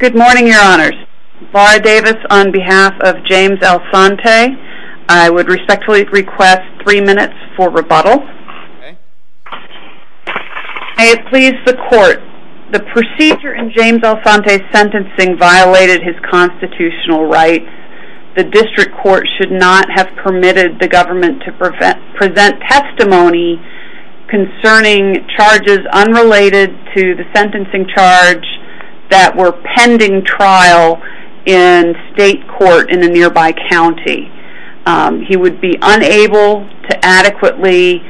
Good morning, your honors. Laura Davis on behalf of James Alsante. I would respectfully request three minutes for rebuttal. May it please the court, the procedure in James Alsante's sentencing violated his constitutional rights. The district court should not have permitted the government to present testimony concerning charges unrelated to the sentencing charge that were pending trial in state court in a nearby county. He would be unable to adequately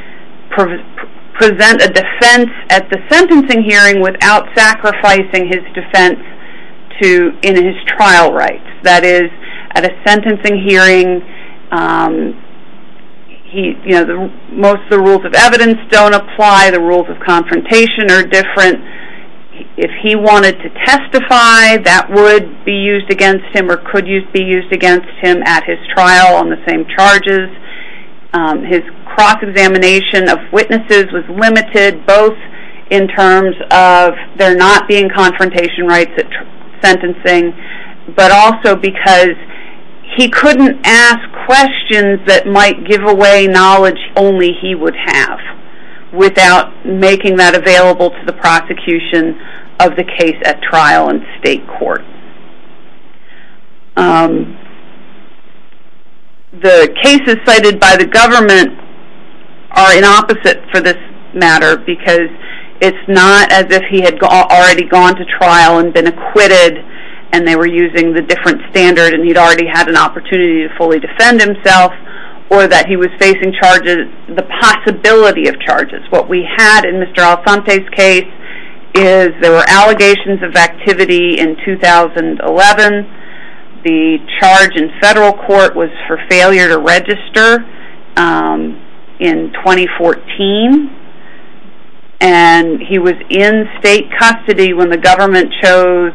present a defense at the sentencing hearing without sacrificing his defense in his trial rights. That is, at a sentencing hearing, most of the rules of evidence don't apply, the rules of confrontation are different. If he wanted to testify, that would be used against him or could be used against him at his trial on the same charges. His cross-examination of witnesses was limited, both in terms of there not being confrontation rights at sentencing, but also because he couldn't ask questions that might give away knowledge only he would have without making that available to the prosecution of the case at trial in state court. The cases cited by the government are in opposite for this matter because it's not as if he had already gone to trial and been acquitted and they were using the different standard and he'd already had an opportunity to fully defend himself or that he was facing the possibility of charges. What we had in Mr. Alsante's case is there were allegations of activity in 2011, the charge in federal court was for failure to register in 2014, and he was in state custody when the government chose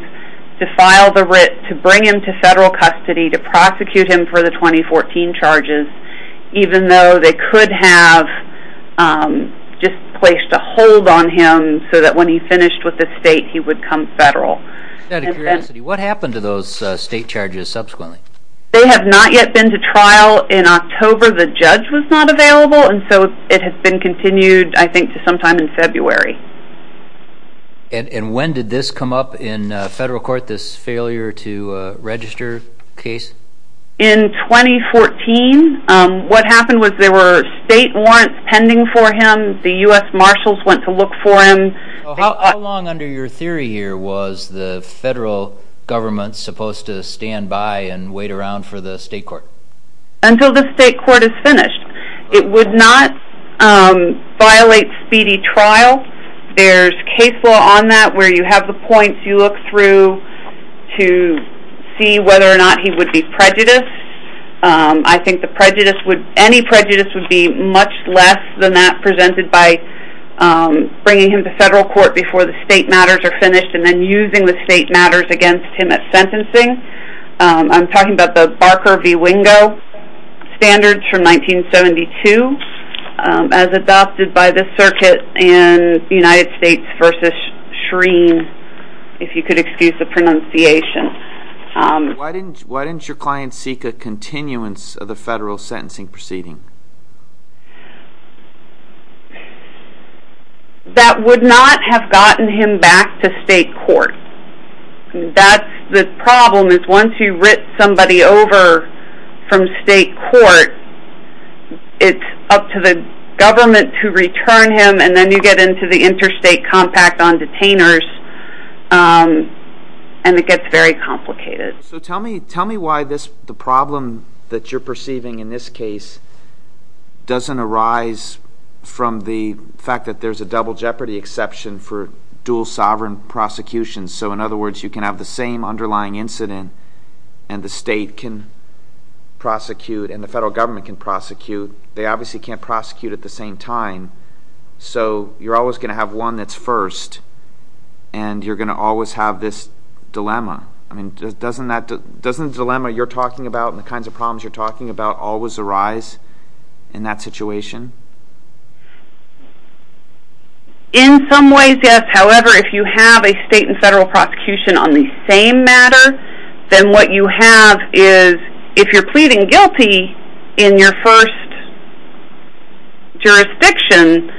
to file the writ to bring him to federal charges even though they could have just placed a hold on him so that when he finished with the state he would come federal. Out of curiosity, what happened to those state charges subsequently? They have not yet been to trial. In October, the judge was not available and so it has been continued I think to sometime in February. And when did this come up in federal court, this failure to register case? In 2014. What happened was there were state warrants pending for him. The U.S. Marshals went to look for him. How long under your theory here was the federal government supposed to stand by and wait around for the state court? Until the state court is finished. It would not violate speedy trial. There's case law on that where you have the points you look through to see whether or not he would be prejudiced. I think any prejudice would be much less than that presented by bringing him to federal court before the state matters are finished and then using the state matters against him at sentencing. I'm talking about Barker v. Wingo standards from 1972 as adopted by the circuit in the United States v. Shreen, if you could excuse the pronunciation. Why didn't your client seek a continuance of the federal sentencing proceeding? That would not have gotten him back to state court. The problem is once you writ somebody over from state court, it's up to the government to return him and then you get into the interstate compact on detainers and it gets very complicated. Tell me why the problem that you're perceiving in this case doesn't arise from the fact that there's a double jeopardy exception for dual sovereign prosecutions. In other words, you can have the same underlying incident and the state can prosecute and the federal government can prosecute. They obviously can't prosecute at the same time, so you're always going to have one that's first and you're going to always have this dilemma. I mean, doesn't the dilemma you're talking about and the kinds of problems you're talking about always arise in that situation? In some ways, yes. However, if you have a state and federal prosecution on the same matter, then what you have is if you're pleading guilty in your first jurisdiction,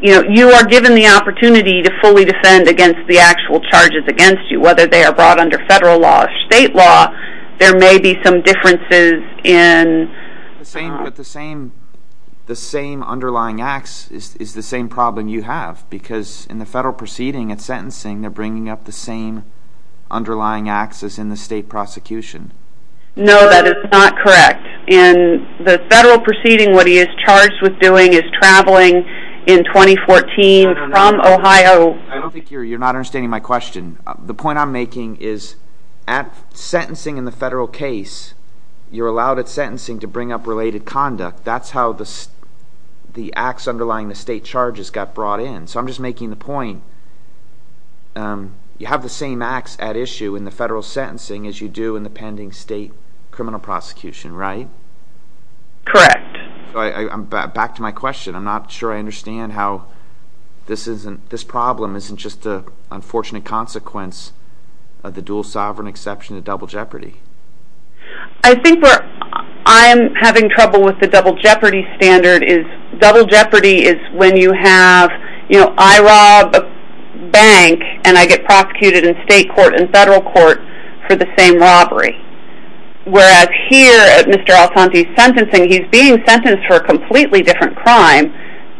you are given the opportunity to fully defend against the actual charges against you, whether they are brought under federal law or state law. There may be some differences in... The same underlying acts is the same problem you have because in the sentencing, they're bringing up the same underlying acts as in the state prosecution. No, that is not correct. In the federal proceeding, what he is charged with doing is traveling in 2014 from Ohio... I don't think you're not understanding my question. The point I'm making is at sentencing in the federal case, you're allowed at sentencing to bring up related conduct. That's how the acts you have the same acts at issue in the federal sentencing as you do in the pending state criminal prosecution, right? Correct. Back to my question. I'm not sure I understand how this problem isn't just an unfortunate consequence of the dual sovereign exception to double jeopardy. I think where I'm having trouble with the double jeopardy standard is double jeopardy is when you have, I rob a bank and I get prosecuted in state court and federal court for the same robbery. Whereas here at Mr. Altante's sentencing, he's being sentenced for a completely different crime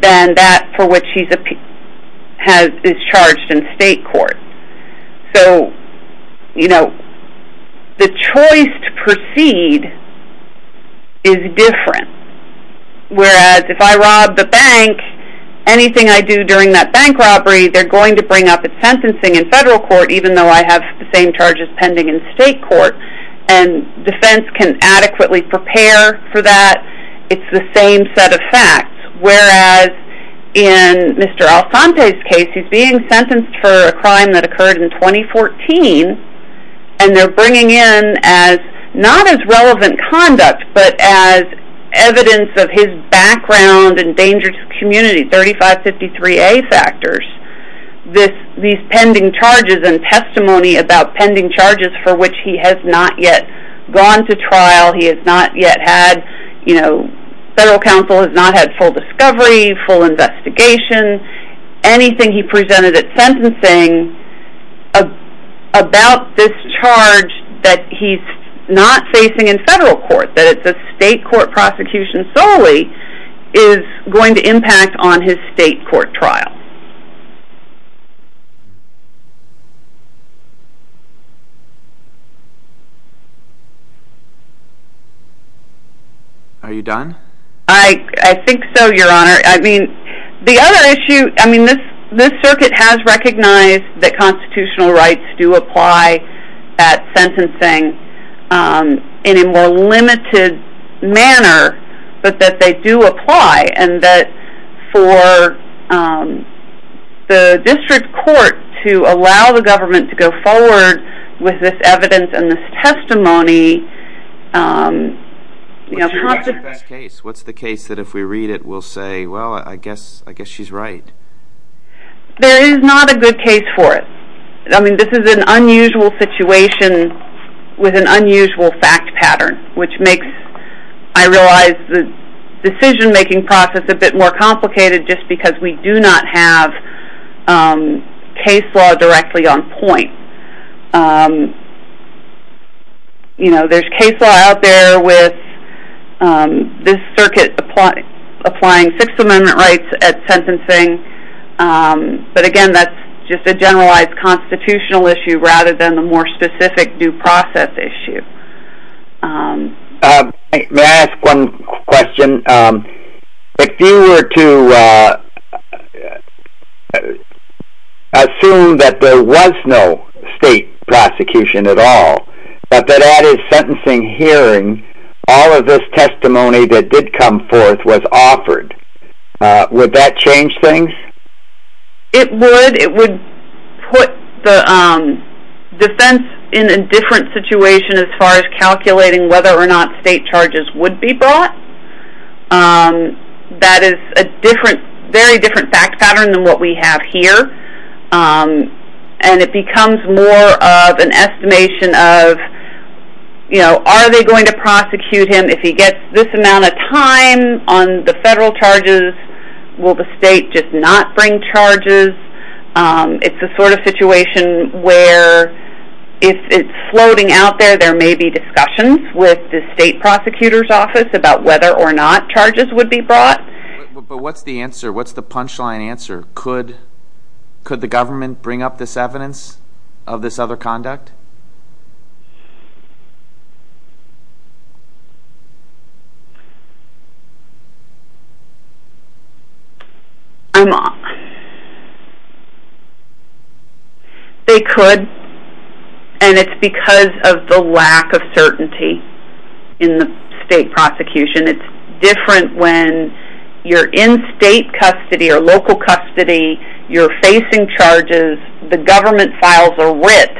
than that for which he is charged in state court. The choice to proceed is different. Whereas if I rob the bank, anything I do during that bank robbery, they're going to bring up at sentencing in federal court, even though I have the same charges pending in state court and defense can adequately prepare for that. It's the same set of facts. Whereas in Mr. Altante's case, he's being sentenced for a crime that occurred in 2014 and they're bringing in as not as relevant conduct, but as evidence of his background and dangerous community, 3553A factors. These pending charges and testimony about pending charges for which he has not yet gone to trial. He has not yet had, you know, federal counsel has not had full discovery, full investigation, anything he presented at sentencing about this charge that he's not facing in federal court, that it's a state court prosecution solely, is going to impact on his state court trial. Are you done? I think so, your honor. I mean, the other issue, I mean, this, this circuit has recognized that constitutional rights do apply at sentencing in a more limited manner, but that they do apply and that for the district court to allow the government to go forward with this evidence and this testimony, What's your best case? What's the case that if we read it, we'll say, well, I guess, I guess she's right. There is not a good case for it. I mean, this is an unusual situation with an unusual fact pattern, which makes, I realize, the decision making process a bit more complicated just because we do not have case law directly on point. You know, there's case law out there with this circuit applying Sixth Amendment rights at sentencing, but again, that's just a generalized constitutional issue, rather than the more specific due process issue. May I ask one question? If you were to assume that there was no state prosecution at all, but that at his sentencing hearing, all of this testimony that did come forth was offered, would that change things? It would. It would put the defense in a different situation as far as calculating whether or not state charges would be brought. That is a different, very different fact pattern than what we have here, and it becomes more of an estimation of, you know, are they going to prosecute him if he gets this amount of time on the federal charges? Will the state just not bring charges? It's the sort of situation where if it's floating out there, there may be discussions with the state prosecutor's office about whether or not charges would be brought. But what's the answer? What's the punchline answer? Could the government bring up this evidence of this other conduct? I'm off. They could, and it's because of the lack of certainty in the state prosecution. It's different when you're in state custody or local custody, you're facing charges, the government files are wit,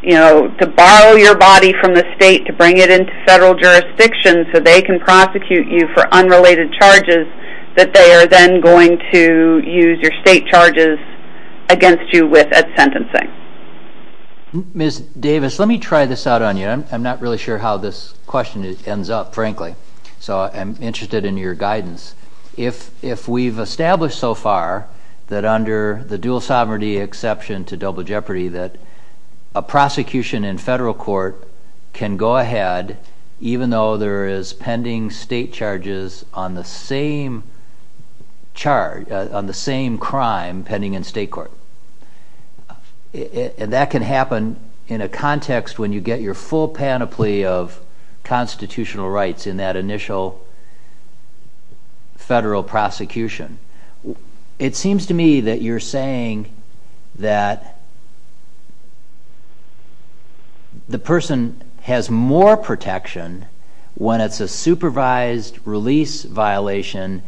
you know, to borrow your body from the state to bring it into federal jurisdiction so they can prosecute you for unrelated charges, that they are then going to use your state prosecution to prosecute you. And then they're going to bring charges against you with sentencing. Ms. Davis, let me try this out on you. I'm not really sure how this question ends up, frankly, so I'm interested in your guidance. If we've established so far that under the dual sovereignty exception to double jeopardy that a prosecution in federal court can go ahead, even though there is pending state charges on the same charge, on the same crime pending in state court. And that can happen in a context when you get your full panoply of constitutional rights in that initial federal prosecution. It seems to me that you're saying that the person has more protection when it's a supervised release violation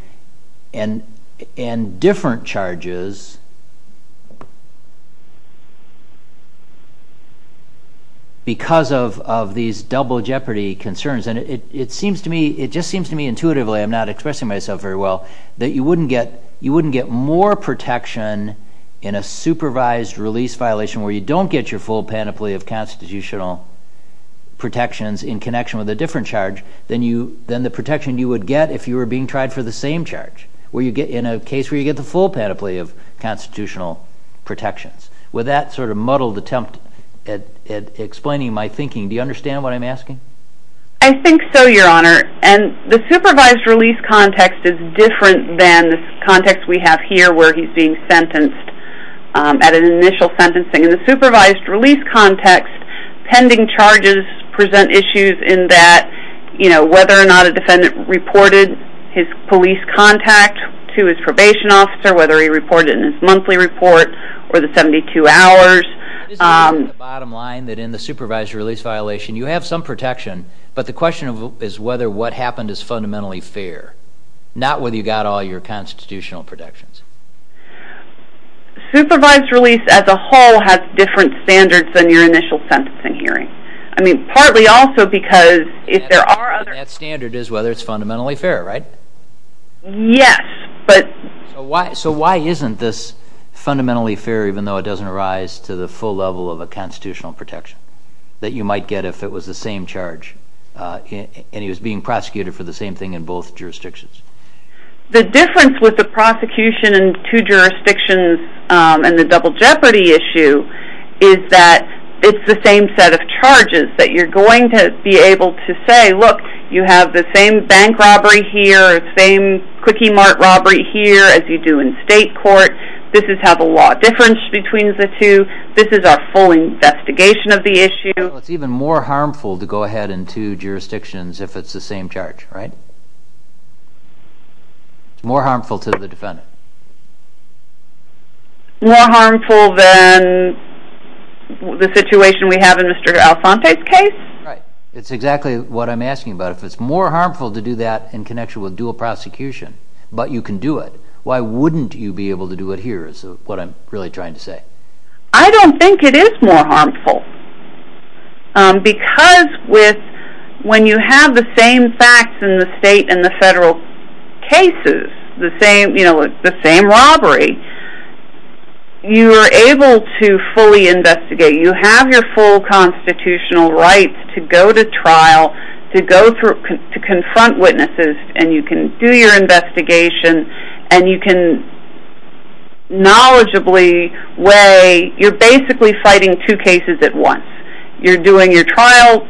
and different charges because of these double jeopardy concerns. And it seems to me, it just seems to me intuitively, I'm not expressing myself very well, that you wouldn't get more protection in a supervised release violation where you don't get your full panoply of constitutional protections in connection with a different charge than the protection you would get if you were being tried for the same charge. In a case where you get the full panoply of constitutional protections. With that sort of muddled attempt at explaining my thinking, do you understand what I'm asking? I think so, your honor. And the supervised release context is different than the context we have here where he's being sentenced at an initial sentencing. In the supervised release context, pending charges present issues in that, you know, whether or not a defendant reported his police contact to his probation officer, whether he reported it in his monthly report or the 72 hours. The bottom line is that in the supervised release violation, you have some protection, but the question is whether what happened is fundamentally fair. Not whether you got all your constitutional protections. Supervised release as a whole has different standards than your initial sentencing hearing. I mean, partly also because if there are other... And that standard is whether it's fundamentally fair, right? Yes, but... So why isn't this fundamentally fair even though it doesn't arise to the full level of a constitutional protection? That you might get if it was the same charge and he was being prosecuted for the same thing in both jurisdictions? The difference with the prosecution in two jurisdictions and the double jeopardy issue is that it's the same set of charges. That you're going to be able to say, look, you have the same bank robbery here, the same quickie mart robbery here as you do in state court. This is how the law differs between the two. This is our full investigation of the issue. It's even more harmful to go ahead in two jurisdictions if it's the same charge, right? More harmful than the situation we have in Mr. Alphante's case? Right. It's exactly what I'm asking about. If it's more harmful to do that in connection with dual prosecution, but you can do it, why wouldn't you be able to do it here is what I'm really trying to say. I don't think it is more harmful. Because when you have the same facts in the state and the federal cases, the same robbery, you are able to fully investigate. You have your full constitutional rights to go to trial, to confront witnesses, and you can do your investigation and you can knowledgeably weigh, you're basically fighting two cases at once. You're doing your trial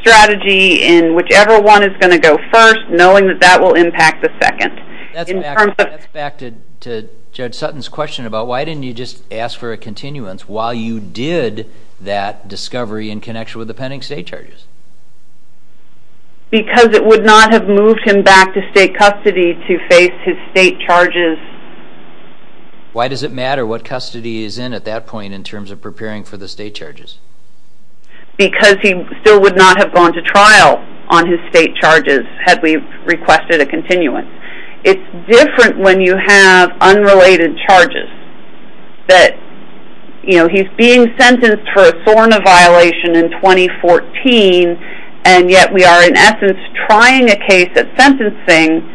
strategy in whichever one is going to go first, knowing that that will impact the second. That's back to Judge Sutton's question about why didn't you just ask for a continuance while you did that discovery in connection with the pending state charges? Because it would not have moved him back to state custody to face his state charges. Why does it matter what custody he's in at that point in terms of preparing for the state charges? Because he still would not have gone to trial on his state charges had we requested a continuance. It's different when you have unrelated charges. He's being sentenced for a SORNA violation in 2014, and yet we are in essence trying a case at sentencing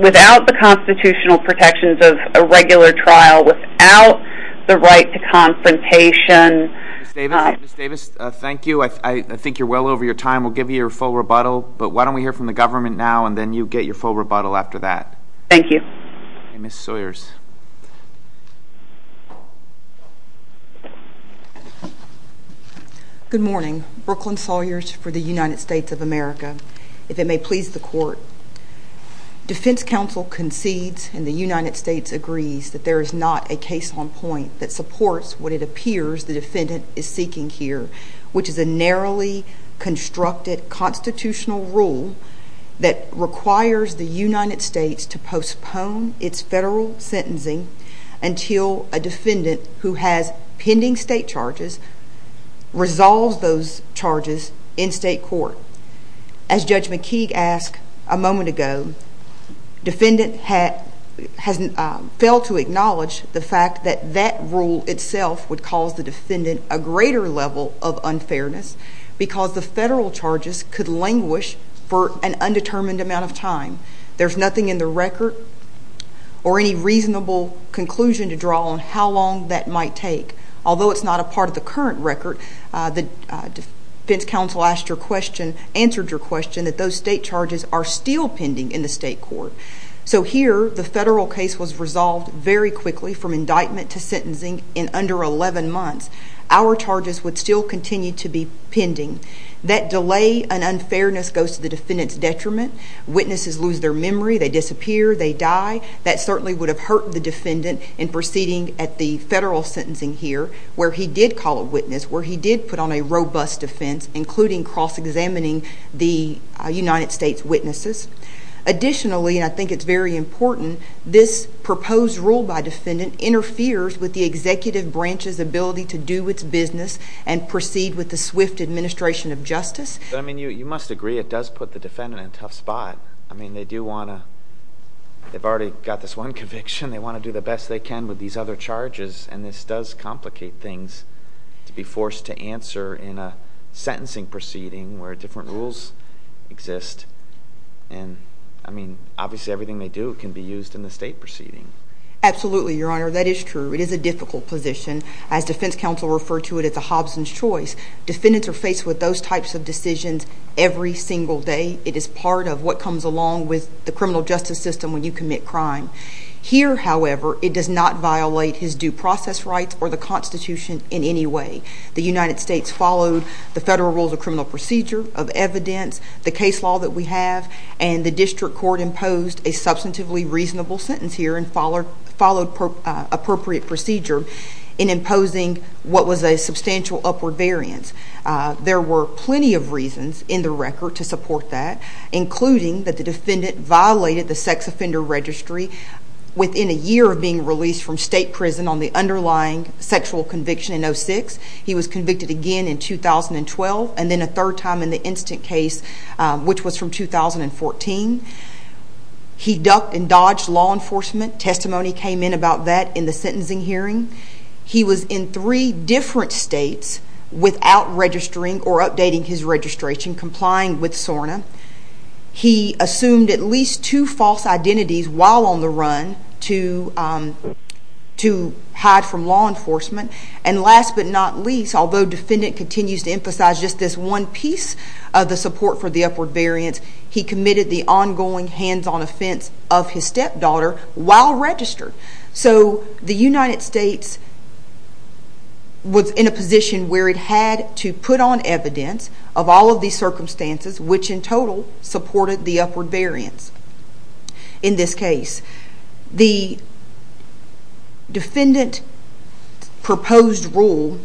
without the constitutional protections of a regular trial, without the right to confrontation. Ms. Davis, thank you. I think you're well over your time. We'll give you your full rebuttal, but why don't we hear from the government now and then you get your full rebuttal after that. Thank you. Ms. Sawyers. Good morning. Brooklyn Sawyers for the United States of America. If it may please the court, defense counsel concedes and the United States agrees that there is not a case on point that supports what it appears the defendant is seeking here, which is a narrowly constructed constitutional rule that requires the United States to postpone its federal sentencing until a defendant who has pending state charges resolves those charges in state court. As Judge McKeague asked a moment ago, defendant has failed to acknowledge the fact that that rule itself would cause the defendant a greater level of unfairness because the federal charges could languish for an undetermined amount of time. There's nothing in the record or any reasonable conclusion to draw on how long that might take. Although it's not a part of the current record, the defense counsel asked your question, answered your question that those state charges are still pending in the state court. So here the federal case was resolved very quickly from indictment to sentencing in under 11 months. Our charges would still continue to be pending. That delay and unfairness goes to the defendant's detriment. Witnesses lose their memory, they disappear, they die. That certainly would have hurt the defendant in proceeding at the federal sentencing here where he did call a witness, where he did put on a robust defense, including cross-examining the United States witnesses. Additionally, and I think it's very important, this proposed rule by defendant interferes with the executive branch's ability to do its business and proceed with the swift administration of justice. You must agree it does put the defendant in a tough spot. They do want to they've already got this one conviction, they want to do the best they can with these other complicated things to be forced to answer in a sentencing proceeding where different rules exist. Obviously everything they do can be used in the state proceeding. Absolutely, your honor. That is true. It is a difficult position. As defense counsel referred to it, it's a Hobson's choice. Defendants are faced with those types of decisions every single day. It is part of what comes along with the criminal justice system when you commit crime. Here, however, it does not violate his due process rights or the Constitution in any way. The United States followed the federal rules of criminal procedure of evidence, the case law that we have, and the district court imposed a substantively reasonable sentence here and followed appropriate procedure in imposing what was a substantial upward variance. There were plenty of reasons in the record to support that, including that the defendant violated the sex offender registry within a year of being released from state prison on the underlying sexual conviction in 06. He was convicted again in 2012 and then a third time in the instant case, which was from 2014. He ducked and dodged law enforcement. Testimony came in about that in the sentencing hearing. He was in three different states without registering or updating his registration, complying with SORNA. He assumed at least two false identities while on the run to hide from law enforcement. And last but not least, although the defendant continues to emphasize just this one piece of the support for the upward variance, he committed the ongoing hands-on offense of his stepdaughter while registered. So the United States was in a position where it had to put on evidence of all of these circumstances, which in total supported the upward variance. In this case, the defendant's proposed rule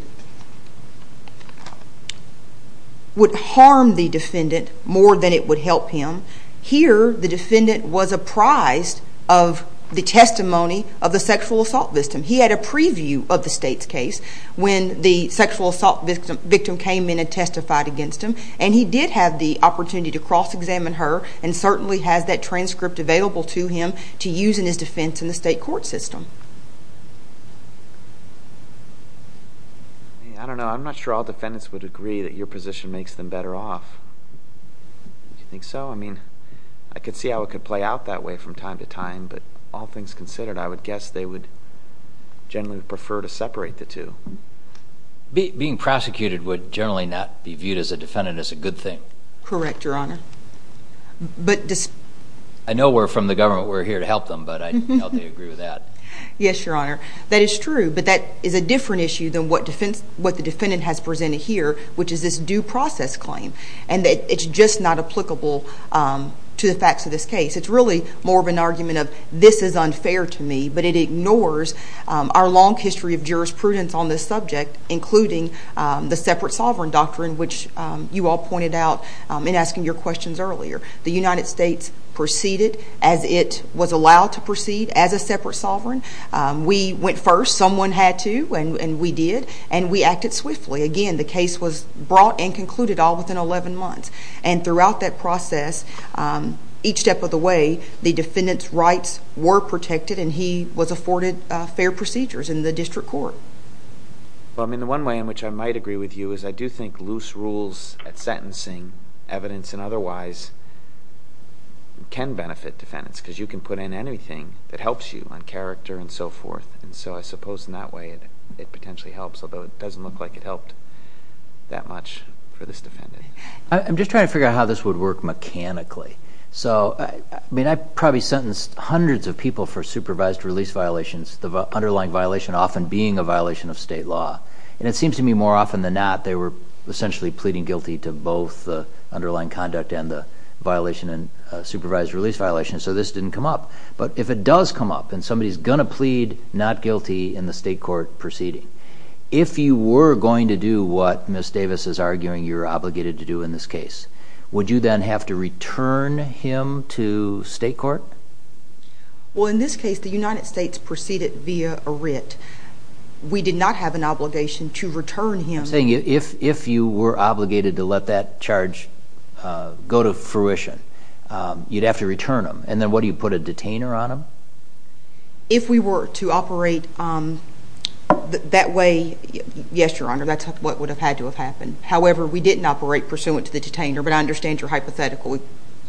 would harm the defendant more than it would help him. Here, the defendant was apprised of the testimony of the sexual assault victim. He had a preview of the state's case when the sexual assault victim came in and testified against him. And he did have the opportunity to have that transcript available to him to use in his defense in the state court system. I don't know. I'm not sure all defendants would agree that your position makes them better off. Do you think so? I mean, I could see how it could play out that way from time to time, but all things considered, I would guess they would generally prefer to separate the two. Being prosecuted would generally not be viewed as a defendant as a good thing. Correct, Your Honor. I know we're from the government. We're here to help them, but I doubt they agree with that. Yes, Your Honor. That is true, but that is a different issue than what the defendant has presented here, which is this due process claim, and that it's just not applicable to the facts of this case. It's really more of an argument of, this is unfair to me, but it ignores our long history of jurisprudence on this subject, including the separate sovereign doctrine, which you all pointed out in asking your questions earlier. The United States proceeded as it was allowed to proceed as a separate sovereign. We went first. Someone had to, and we did, and we acted swiftly. Again, the case was brought and concluded all within 11 months, and throughout that process, each step of the way, the defendant's rights were protected, and he was afforded fair procedures in the district court. Well, I mean, the one way in which I might agree with you is I do think loose rules at sentencing, evidence and otherwise, can benefit defendants, because you can put in anything that helps you on character and so forth, and so I suppose in that way it potentially helps, although it doesn't look like it helped that much for this defendant. I'm just trying to figure out how this would work mechanically. So, I mean, I probably sentenced hundreds of people for supervised release violations, the underlying violation often being a violation of state law, and it seems to me more often than not, they were essentially pleading guilty to both the underlying conduct and the violation and supervised release violations, so this didn't come up. But if it does come up, and somebody's going to plead not guilty in the state court proceeding, if you were going to do what Ms. Davis is arguing you're obligated to do in this case, would you then have to return him to state court? Well, in this case, the United States proceeded via a writ. We did not have an obligation to return him. If you were obligated to let that charge go to fruition, you'd have to return him, and then what, do you put a detainer on him? If we were to operate that way, yes, Your Honor, that's what would have had to have happened. However, we didn't operate pursuant to the detainer, but I understand your hypothetical.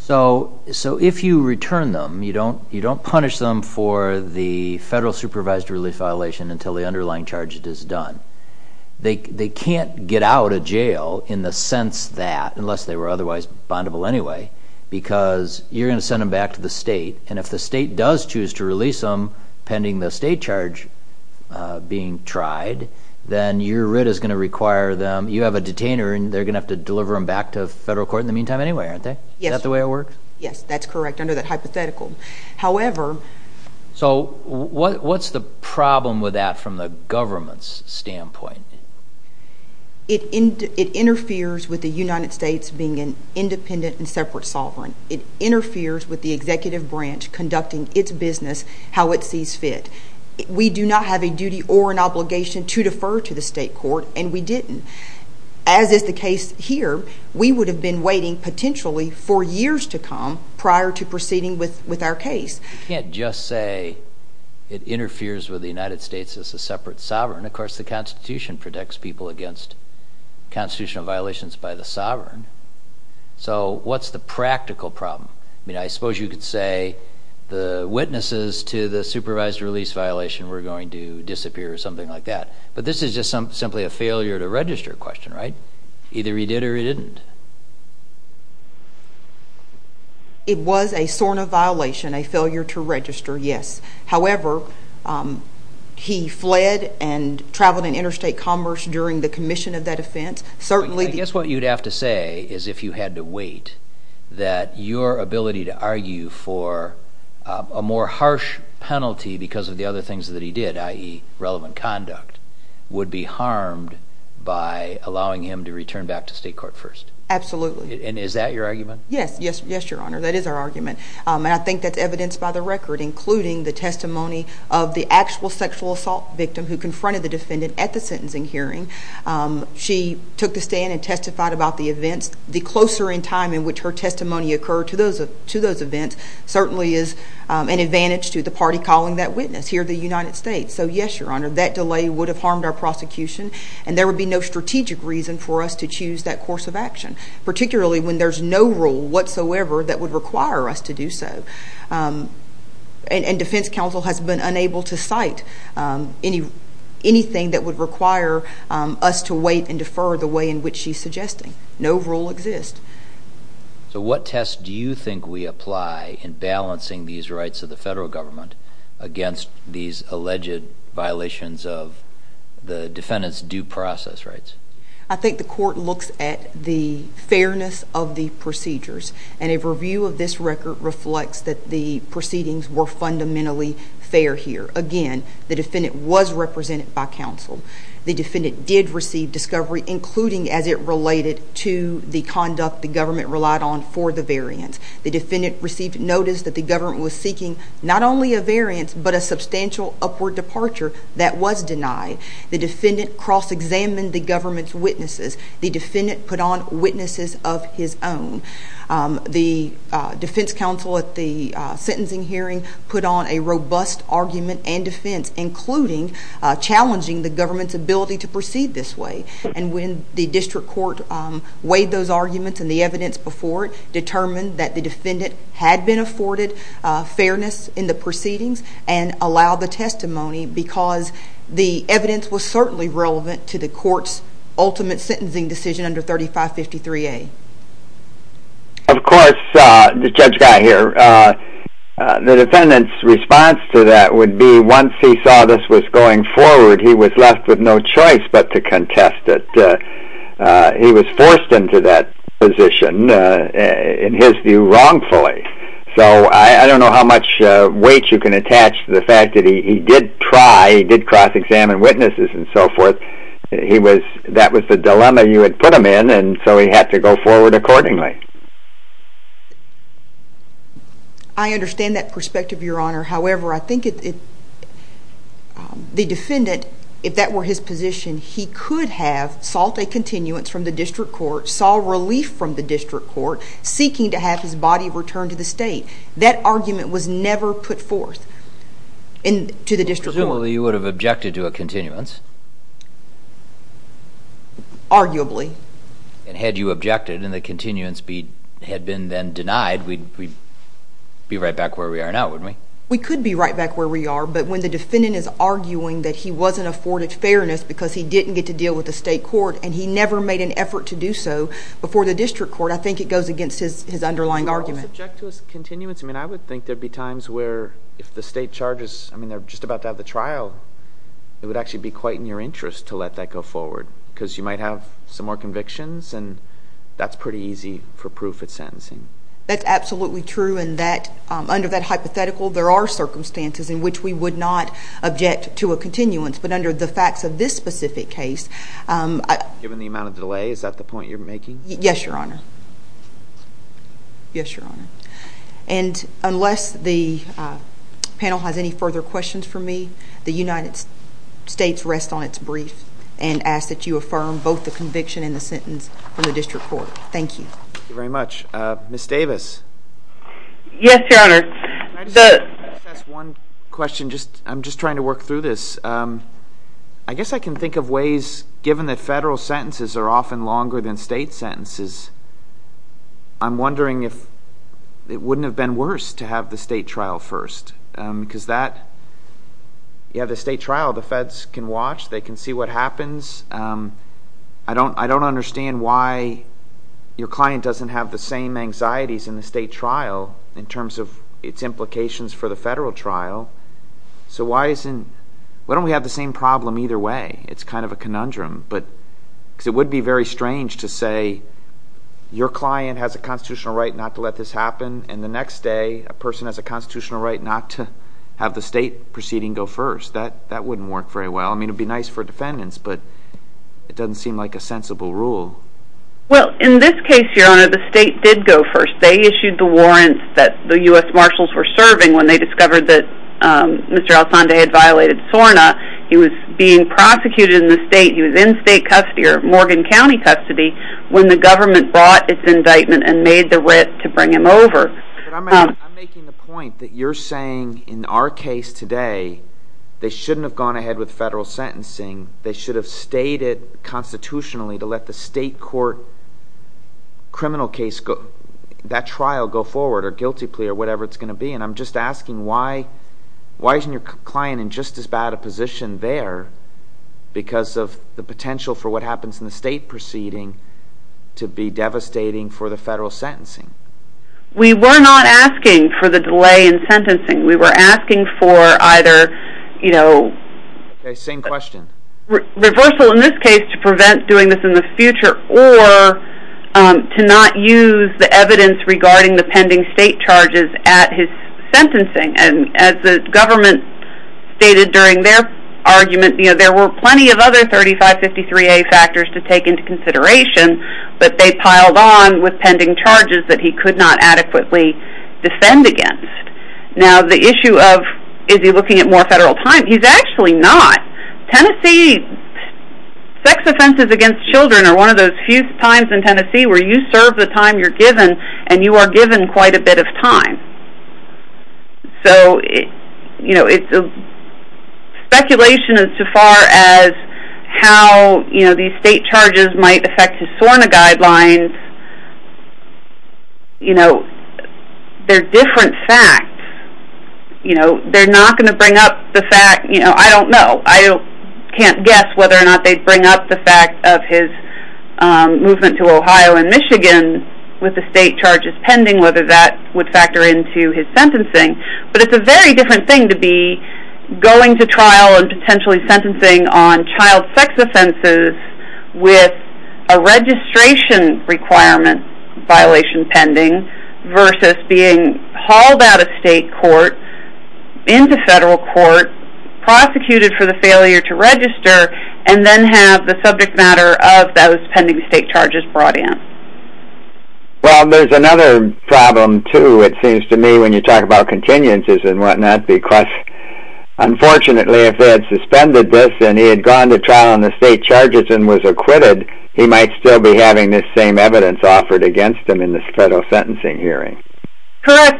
So, if you return them, you don't punish them for the federal supervised release violation until the underlying charge is done. They can't get out of jail in the sense that, unless they were otherwise bondable anyway, because you're going to send them back to the state, and if the state does choose to release them pending the state charge being tried, then your writ is going to require them, you have a detainer, and they're going to have to deliver them back to federal court in the meantime anyway, aren't they? Is that the way it works? Yes, that's correct, under that hypothetical. However, So, what's the problem with that from the government's standpoint? It interferes with the United States being an independent and separate sovereign. It interferes with the executive branch conducting its business how it sees fit. We do not have a duty or an obligation to defer to the state court, and we didn't. As is the case here, we would have been waiting, potentially, for years to come prior to just say it interferes with the United States as a separate sovereign. Of course, the Constitution protects people against constitutional violations by the sovereign. So, what's the practical problem? I mean, I suppose you could say the witnesses to the supervised release violation were going to disappear or something like that, but this is just simply a failure to register question, right? Either he did or he didn't. It was a question of violation, a failure to register, yes. However, he fled and traveled in interstate commerce during the commission of that offense. I guess what you'd have to say is if you had to wait, that your ability to argue for a more harsh penalty because of the other things that he did, i.e., relevant conduct, would be harmed by allowing him to return back to state court first. Absolutely. And is that your argument? Yes, Your Honor. That is our argument. And I think that's evidenced by the record, including the testimony of the actual sexual assault victim who confronted the defendant at the sentencing hearing. She took the stand and testified about the events. The closer in time in which her testimony occurred to those events certainly is an advantage to the party calling that witness here in the United States. So, yes, Your Honor, that delay would have harmed our prosecution, and there would be no strategic reason for us to choose that course of action, particularly when there's no rule whatsoever that would require us to do so. And defense counsel has been unable to cite anything that would require us to wait and defer the way in which she's suggesting. No rule exists. So what test do you think we apply in balancing these rights of the federal government against these alleged violations of the defendant's due process rights? I think the court looks at the fairness of the procedures. And a review of this record reflects that the proceedings were fundamentally fair here. Again, the defendant was represented by counsel. The defendant did receive discovery, including as it related to the conduct the government relied on for the variance. The defendant received notice that the government was seeking not only a variance but a substantial upward departure that was denied. The defendant cross-examined the government's witnesses. The defendant put on witnesses of his own. The defense counsel at the sentencing hearing put on a robust argument and defense, including challenging the government's ability to proceed this way. And when the district court weighed those arguments and the evidence before it, determined that the defendant had been afforded fairness in the proceedings and allowed the testimony because the evidence was certainly relevant to the court's ultimate sentencing decision under 3553A. Of course, Judge Guy here, the defendant's response to that would be once he saw this was going forward, he was left with no choice but to contest it. He was forced into that position, in his view, wrongfully. So I don't know how much weight you can apply. He did cross-examine witnesses and so forth. That was the dilemma you had put him in, and so he had to go forward accordingly. I understand that perspective, Your Honor. However, I think the defendant, if that were his position, he could have sought a continuance from the district court, saw relief from the district court, seeking to have his body returned to the state. That argument was never put forth to the district court. Presumably, you would have objected to a continuance. Arguably. Had you objected and the continuance had been then denied, we'd be right back where we are now, wouldn't we? We could be right back where we are, but when the defendant is arguing that he wasn't afforded fairness because he didn't get to deal with the state court and he never made an effort to do so before the district court, I think it goes against his underlying argument. I mean, I would think there'd be times where if the state charges, I mean, they're just about to have the trial, it would actually be quite in your interest to let that go forward, because you might have some more convictions, and that's pretty easy for proof at sentencing. That's absolutely true, and under that hypothetical, there are circumstances in which we would not object to a continuance, but under the facts of this specific case... Given the amount of delay, is that the point you're making? Yes, Your Honor. Yes, Your Honor. And unless the panel has any further questions for me, the United States rests on its brief and asks that you affirm both the conviction and the sentence from the district court. Thank you. Thank you very much. Ms. Davis? Yes, Your Honor. Can I just ask one question? I'm just trying to work through this. I guess I can think of ways, given that federal sentences are often longer than state sentences, I'm wondering if it wouldn't have been worse to have the state trial first, because the state trial, the feds can watch, they can see what happens. I don't understand why your client doesn't have the same anxieties in the state trial in terms of its implications for the federal trial, so why don't we have the same problem either way? It's kind of a conundrum, because it would be very strange to say your client has a constitutional right not to let this happen, and the next day, a person has a constitutional right not to have the state proceeding go first. That wouldn't work very well. I mean, it would be nice for defendants, but it doesn't seem like a sensible rule. Well, in this case, Your Honor, the state did go first. They issued the warrants that the U.S. Marshals were serving when they discovered that Mr. El Sande had violated SORNA. He was being prosecuted in the state. He was in state custody or Morgan County custody when the government brought its indictment and made the wit to bring him over. But I'm making the point that you're saying in our case today, they shouldn't have gone ahead with federal sentencing. They should have stayed it constitutionally to let the state court criminal case, that trial go forward, or guilty plea, or whatever it's going to be, and I'm just asking why isn't your client in just as bad a position there because of the potential for what happens in the state proceeding to be devastating for the federal sentencing? We were not asking for the delay in sentencing. We were asking for either reversal in this case to prevent doing this in the future or to not use the evidence regarding the pending state charges at his sentencing. As the government stated during their argument, there were plenty of other 3553A factors to take into consideration but they piled on with pending charges that he could not adequately defend against. Now the issue of is he looking at more federal time? He's actually not. Tennessee sex offenses against children are one of those few times in Tennessee where you serve the time you're given and you are given quite a bit of time. So it's speculation as far as how these state charges might affect his SORNA guidelines. They're different facts. They're not going to bring up the fact, I don't know, I can't guess whether or not they'd bring up the fact of his movement to Ohio and Michigan with the state charges pending, whether that would factor into his sentencing. But it's a very different thing to be going to trial and potentially sentencing on child sex offenses with a registration requirement violation pending versus being hauled out of state court into federal court, prosecuted for the failure to register, and then have the subject matter of those pending state charges brought in. Well, there's another problem, too, it seems to me when you talk about continuances and whatnot, because unfortunately if they had suspended this and he had gone to trial on the state charges and was acquitted, he might still be having this same evidence offered against him in this federal sentencing hearing. I'm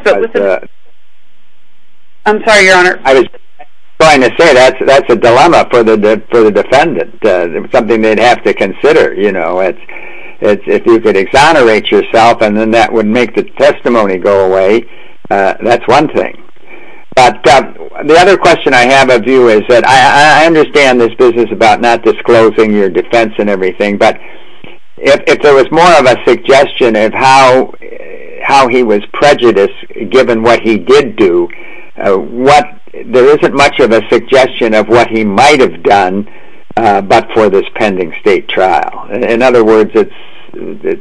sorry, Your Honor. I was trying to say that's a dilemma for the defendant, something they'd have to consider. If you could exonerate yourself and then that would make the testimony go away, that's one thing. But the other question I have of you is that I understand this business about not disclosing your defense and everything, but if there was more of a suggestion of how he was prejudiced given what he did do, there isn't much of a suggestion of what he might have done but for this pending state trial. In other words, the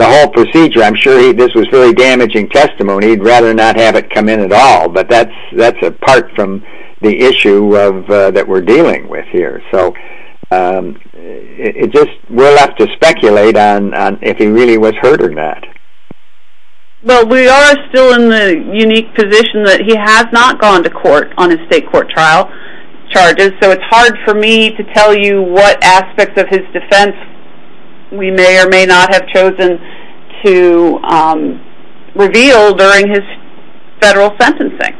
whole procedure, I'm sure this was very damaging testimony, he'd rather not have it come in at all, but that's apart from the issue that we're dealing with here. We'll have to speculate on if he really was hurt or not. Well, we are still in the unique position that he has not gone to court on his state court trial charges, so it's hard for me to tell you what aspects of his defense we may or may not have chosen to reveal during his federal sentencing.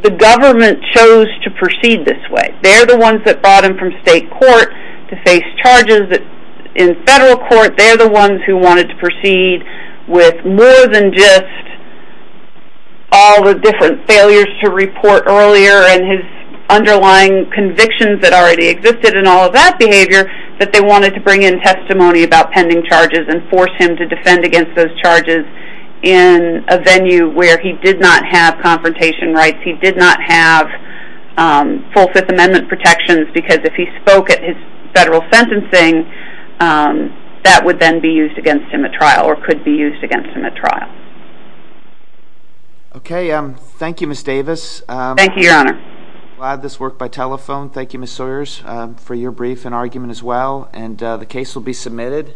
The government chose to proceed this way. They're the ones that brought him from state court to face charges. In federal court, they're the ones who wanted to proceed with more than just all the different failures to report earlier and his underlying convictions that already existed and all of that behavior, but they wanted to bring in testimony about pending charges and force him to defend against those charges in a venue where he did not have confrontation rights, he did not have full Fifth Amendment protections because if he spoke at his federal sentencing, that would then be used against him at trial or could be used against him at trial. Thank you, Ms. Davis. Thank you, Your Honor. Thank you, Ms. Sawyers, for your brief and argument as well. The case will be submitted.